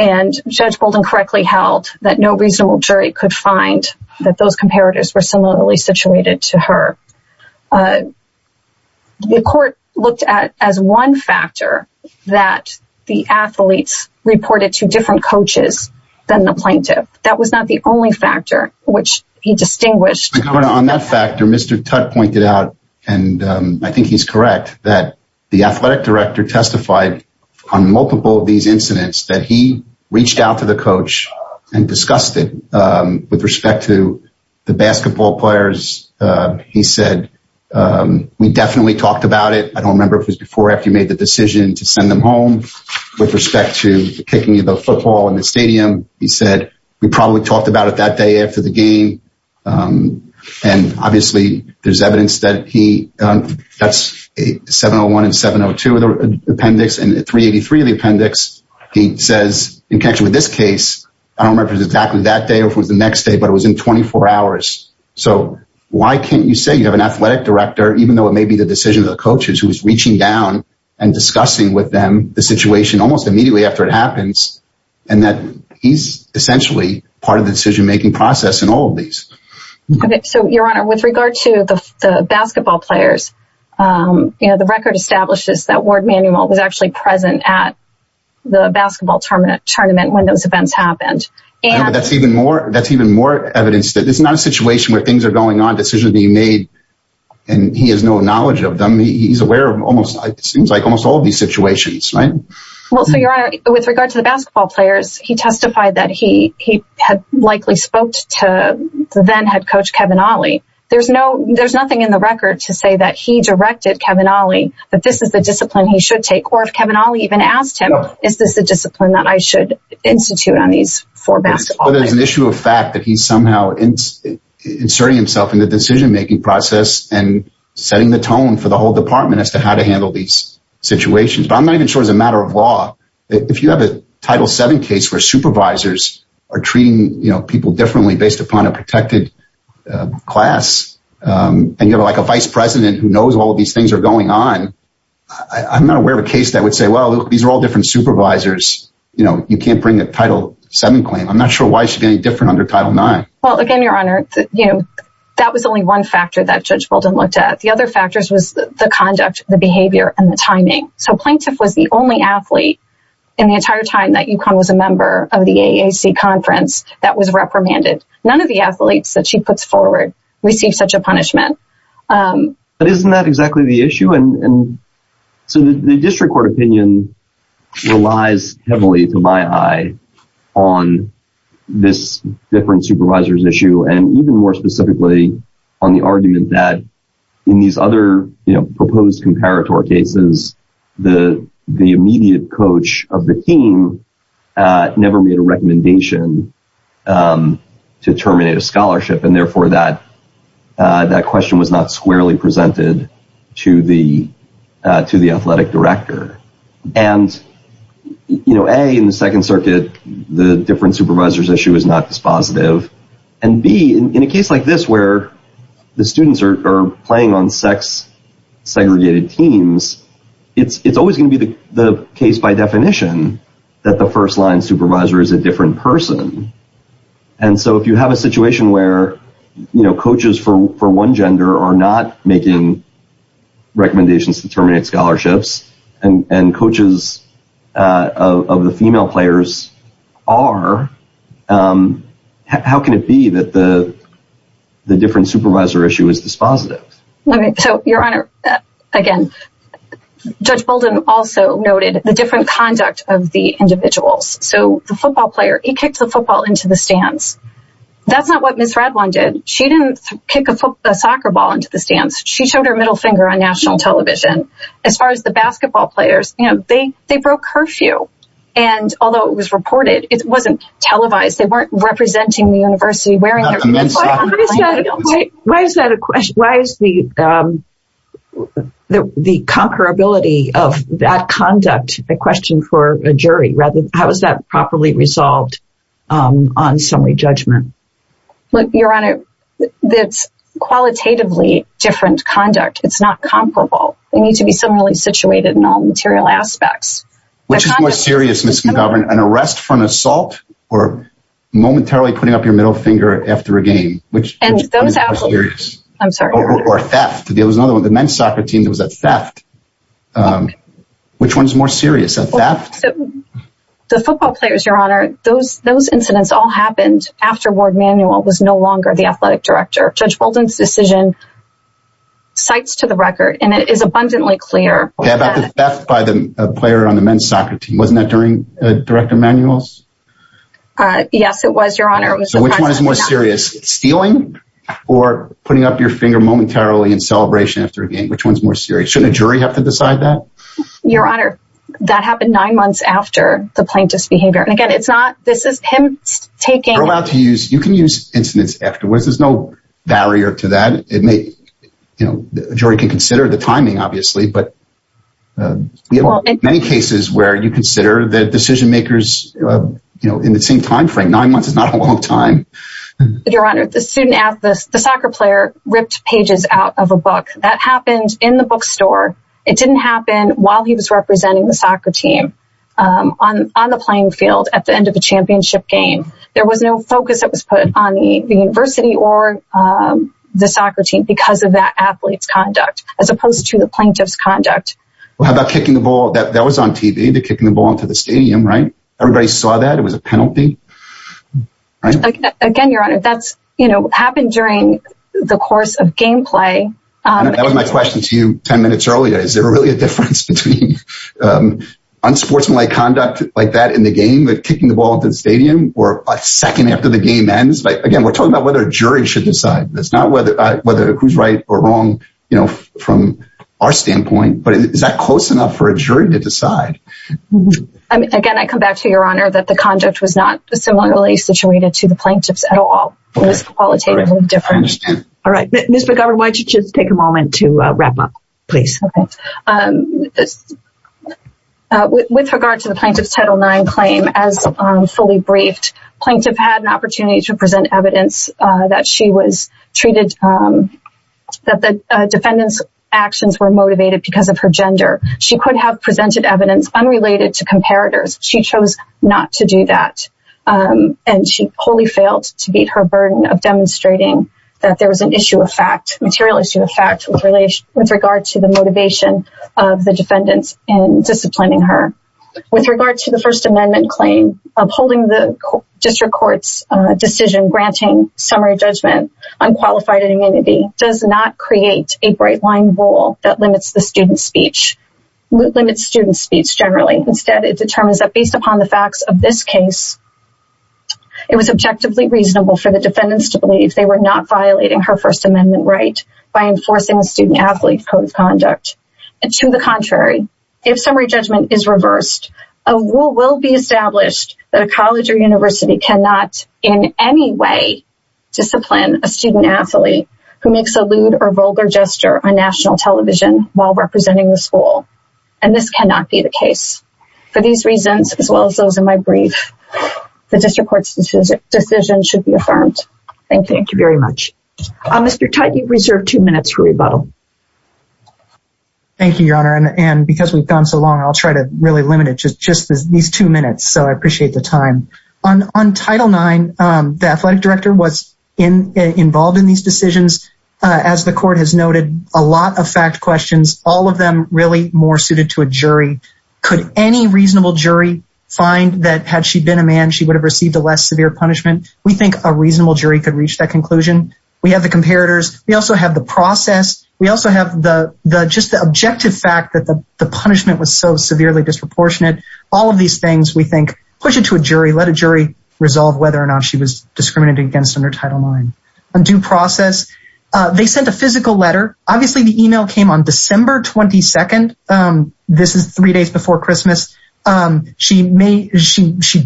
and Judge Bolden correctly held that no reasonable jury could find that those comparators were similarly situated to her. The court looked at as one factor that the athletes reported to different coaches than the plaintiff. That was not the only factor which he distinguished. Your Honor, on that factor, Mr. Tutte pointed out, and I think he's correct, that the athletic director testified on multiple of these incidents that he reached out to the coach and discussed it with respect to the basketball players. He said, we definitely talked about it. I don't remember if it was before or after you made the decision to send them home with respect to kicking the football in the stadium. He said, we probably talked about it that day after the game. And, obviously, there's evidence that he, that's 701 and 702 of the appendix and 383 of the appendix, he says, in connection with this case, I don't remember if it was exactly that day or if it was the next day, but it was in 24 hours. So, why can't you say you have an athletic director, even though it may be the decision of the coaches, who's reaching down and discussing with them the situation almost immediately after it happens and that he's essentially part of the decision-making process in all of these? Right. So, Your Honor, with regard to the basketball players, the record establishes that Ward Manuel was actually present at the basketball tournament when those events happened. That's even more evidence that it's not a situation where things are going on, decisions being made, and he has no knowledge of them. He's aware of almost, it seems like, almost all of these situations, right? Well, so, Your Honor, with regard to the basketball players, he testified that he had likely spoke to the then head coach, Kevin Olley. There's nothing in the record to say that he directed Kevin Olley, that this is the discipline he should take, or if Kevin Olley even asked him, is this the discipline that I should institute on these four basketball players? Well, there's an issue of fact that he's somehow inserting himself in the decision-making process and setting the tone for the whole department as to how to handle these situations, but I'm not even sure it's a matter of law. If you have a Title VII case where supervisors are treating, you know, people differently based upon a protected class, and you have, like, a vice president who knows all of these things are going on, I'm not aware of a case that would say, well, look, these are all different supervisors. You know, you can't bring a Title VII claim. I'm not sure why it should be any different under Title IX. Well, again, Your Honor, you know, that was only one factor that Judge Bolden looked at. The other factors was the conduct, the behavior, and the timing. So Plaintiff was the only athlete in the entire time that UConn was a member of the AAC conference that was reprimanded. None of the athletes that she puts forward receive such a punishment. But isn't that exactly the issue? And so the district court opinion relies heavily, to my eye, on this different supervisor's issue, and even more specifically on the argument that in these other, you know, post-comparator cases, the immediate coach of the team never made a recommendation to terminate a scholarship, and therefore that question was not squarely presented to the athletic director. And, you know, A, in the Second Circuit, and B, in a case like this where the students are playing on sex-segregated teams, it's always going to be the case by definition that the first-line supervisor is a different person. And so if you have a situation where, you know, coaches for one gender are not making recommendations to terminate scholarships, and coaches of the female players are, how can it be that the different supervisor issue is dispositive? So, Your Honor, again, Judge Bolden also noted the different conduct of the individuals. So the football player, he kicked the football into the stands. That's not what Ms. Redwine did. She didn't kick a soccer ball into the stands. She showed her middle finger on national television. As far as the basketball players, you know, they broke curfew. And although it was reported, it wasn't televised. They weren't representing the university wearing their uniform. Why is that a question? Why is the comparability of that conduct a question for a jury? How is that properly resolved on summary judgment? Look, Your Honor, it's qualitatively different conduct. It's not comparable. They need to be similarly situated in all material aspects. Which is more serious, Ms. McGovern, an arrest for an assault or momentarily putting up your middle finger after a game? I'm sorry. Or theft? There was another one, the men's soccer team, there was a theft. Which one is more serious, a theft? The football players, Your Honor, those incidents all happened after Ward Manuel was no longer the athletic director. Judge Bolden's decision cites to the record, and it is abundantly clear. About the theft by the player on the men's soccer team. Wasn't that during Director Manuel's? Yes, it was, Your Honor. So which one is more serious, stealing or putting up your finger momentarily in celebration after a game? Which one's more serious? Shouldn't a jury have to decide that? Your Honor, that happened nine months after the plaintiff's behavior. And again, it's not, this is him taking... You're allowed to use, you can use incidents afterwards. There's no barrier to that. It may, you know, jury can consider the timing, obviously, but many cases where you consider the decision makers, you know, in the same timeframe, nine months is not a long time. Your Honor, the student, the soccer player ripped pages out of a book. That happened in the bookstore. It didn't happen while he was representing the soccer team on the playing field at the end of a championship game. There was no focus that was put on the university or the soccer team because of that athlete's conduct, as opposed to the plaintiff's conduct. Well, how about kicking the ball? That was on TV, the kicking the ball into the stadium, right? Everybody saw that. It was a penalty, right? Again, Your Honor, that's, you know, happened during the course of gameplay. That was my question to you 10 minutes earlier. Is there really a difference between unsportsmanlike conduct like that in the game with kicking the ball into the stadium or a second after the game ends? Again, we're talking about whether a jury should decide this, not whether who's right or wrong, you know, from our standpoint, but is that close enough for a jury to decide? Again, I come back to Your Honor, that the conduct was not similarly situated to the plaintiff's at all. It was qualitatively different. All right. Ms. McGovern, why don't you just take a moment to wrap up, please? Okay. With regard to the plaintiff's Title IX claim, as fully briefed, plaintiff had an opportunity to present evidence that she was treated, that the defendant's actions were motivated because of her gender. She could have presented evidence unrelated to comparators. She chose not to do that. And she wholly failed to beat her burden of demonstrating that there was an issue of fact, material issue of fact, with regard to the motivation of the defendants in disciplining her. With regard to the First Amendment claim, upholding the district court's decision granting summary judgment on qualified immunity does not create a bright-line rule that limits the student's speech, limits student's speech generally. Instead, it determines that based upon the facts of this case, it was objectively reasonable for the defendants to believe they were not violating her First Amendment right by enforcing the student-athlete code of conduct. And to the contrary, if summary judgment is reversed, a rule will be established that a college or university cannot, in any way, discipline a student-athlete who makes a lewd or vulgar gesture on national television while representing the school. And this cannot be the case. For these reasons, as well as those in my brief, the district court's decision should be affirmed. Thank you. Thank you very much. Mr. Tutte, you've reserved two minutes for rebuttal. Thank you, Your Honor. And because we've gone so long, I'll try to really limit it to just these two minutes, so I appreciate the time. On Title IX, the athletic director was involved in these decisions. As the court has noted, a lot of fact questions, all of them really more suited to a jury. Could any reasonable jury find that had she been a man, she would have received a less severe punishment? We think a reasonable jury could reach that conclusion. We have the comparators. We also have the process. We also have just the objective fact that the punishment was so severely disproportionate. All of these things, we think, push it to a jury. Let a jury resolve whether or not she was discriminated against under Title IX. On due process, they sent a physical letter. Obviously, the email came on December 22nd. This is three days before Christmas. She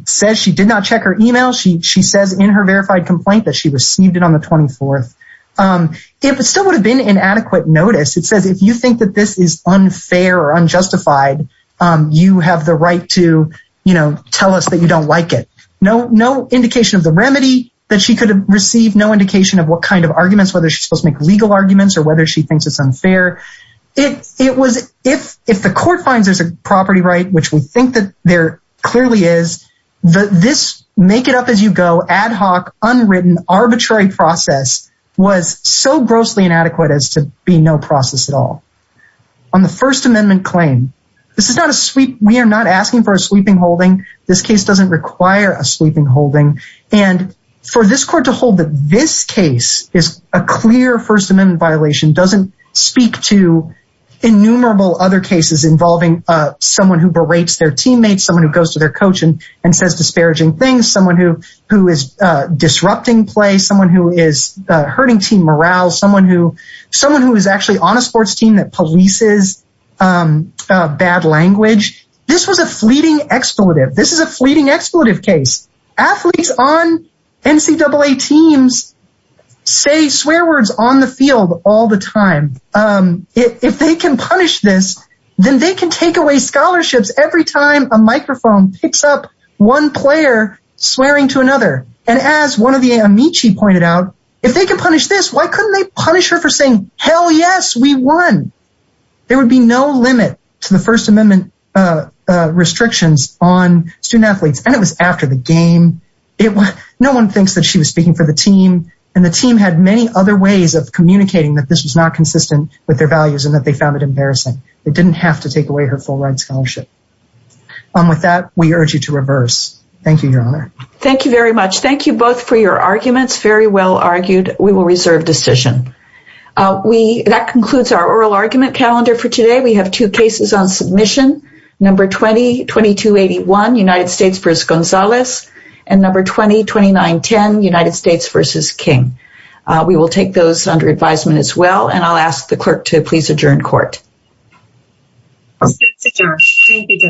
said she did not check her email. She says in her verified complaint that she received it on the 24th. It still would have been inadequate notice. It says if you think that this is unfair or unjustified, you have the right to tell us that you don't like it. No indication of the remedy that she could have received. No indication of what kind of arguments, whether she's supposed to make legal arguments or whether she thinks it's unfair. If the court finds there's a property right, which we think that there clearly is, this make-it-up-as-you-go, ad hoc, unwritten, arbitrary process was so grossly inadequate as to be no process at all. On the First Amendment claim, we are not asking for a sweeping holding. This case doesn't require a sweeping holding. For this court to hold that this case is a clear First Amendment violation doesn't speak to innumerable other cases involving someone who berates their teammates, someone who goes to their coach and says disparaging things, someone who is disrupting play, someone who is hurting team morale, someone who is actually on a sports team that polices bad language. This was a fleeting expletive. This is a fleeting expletive case. Athletes on NCAA teams say swear words on the field all the time. If they can punish this, then they can take away scholarships every time a microphone picks up one player swearing to another. And as one of the amici pointed out, if they can punish this, why couldn't they punish her for saying, hell yes, we won? There would be no limit to the First Amendment restrictions on student-athletes. And it was after the game. No one thinks that she was speaking for the team. And the team had many other ways of communicating that this was not consistent with their values and that they found it embarrassing. They didn't have to take away her full-ride scholarship. With that, we urge you to reverse. Thank you very much. Thank you both for your arguments. Very well argued. We will reserve decision. That concludes our oral argument calendar for today. We have two cases on submission. Number 20-2281, United States vs. Gonzalez. And number 20-2910, United States vs. King. We will take those under advisement as well. And I'll ask the clerk to please adjourn court.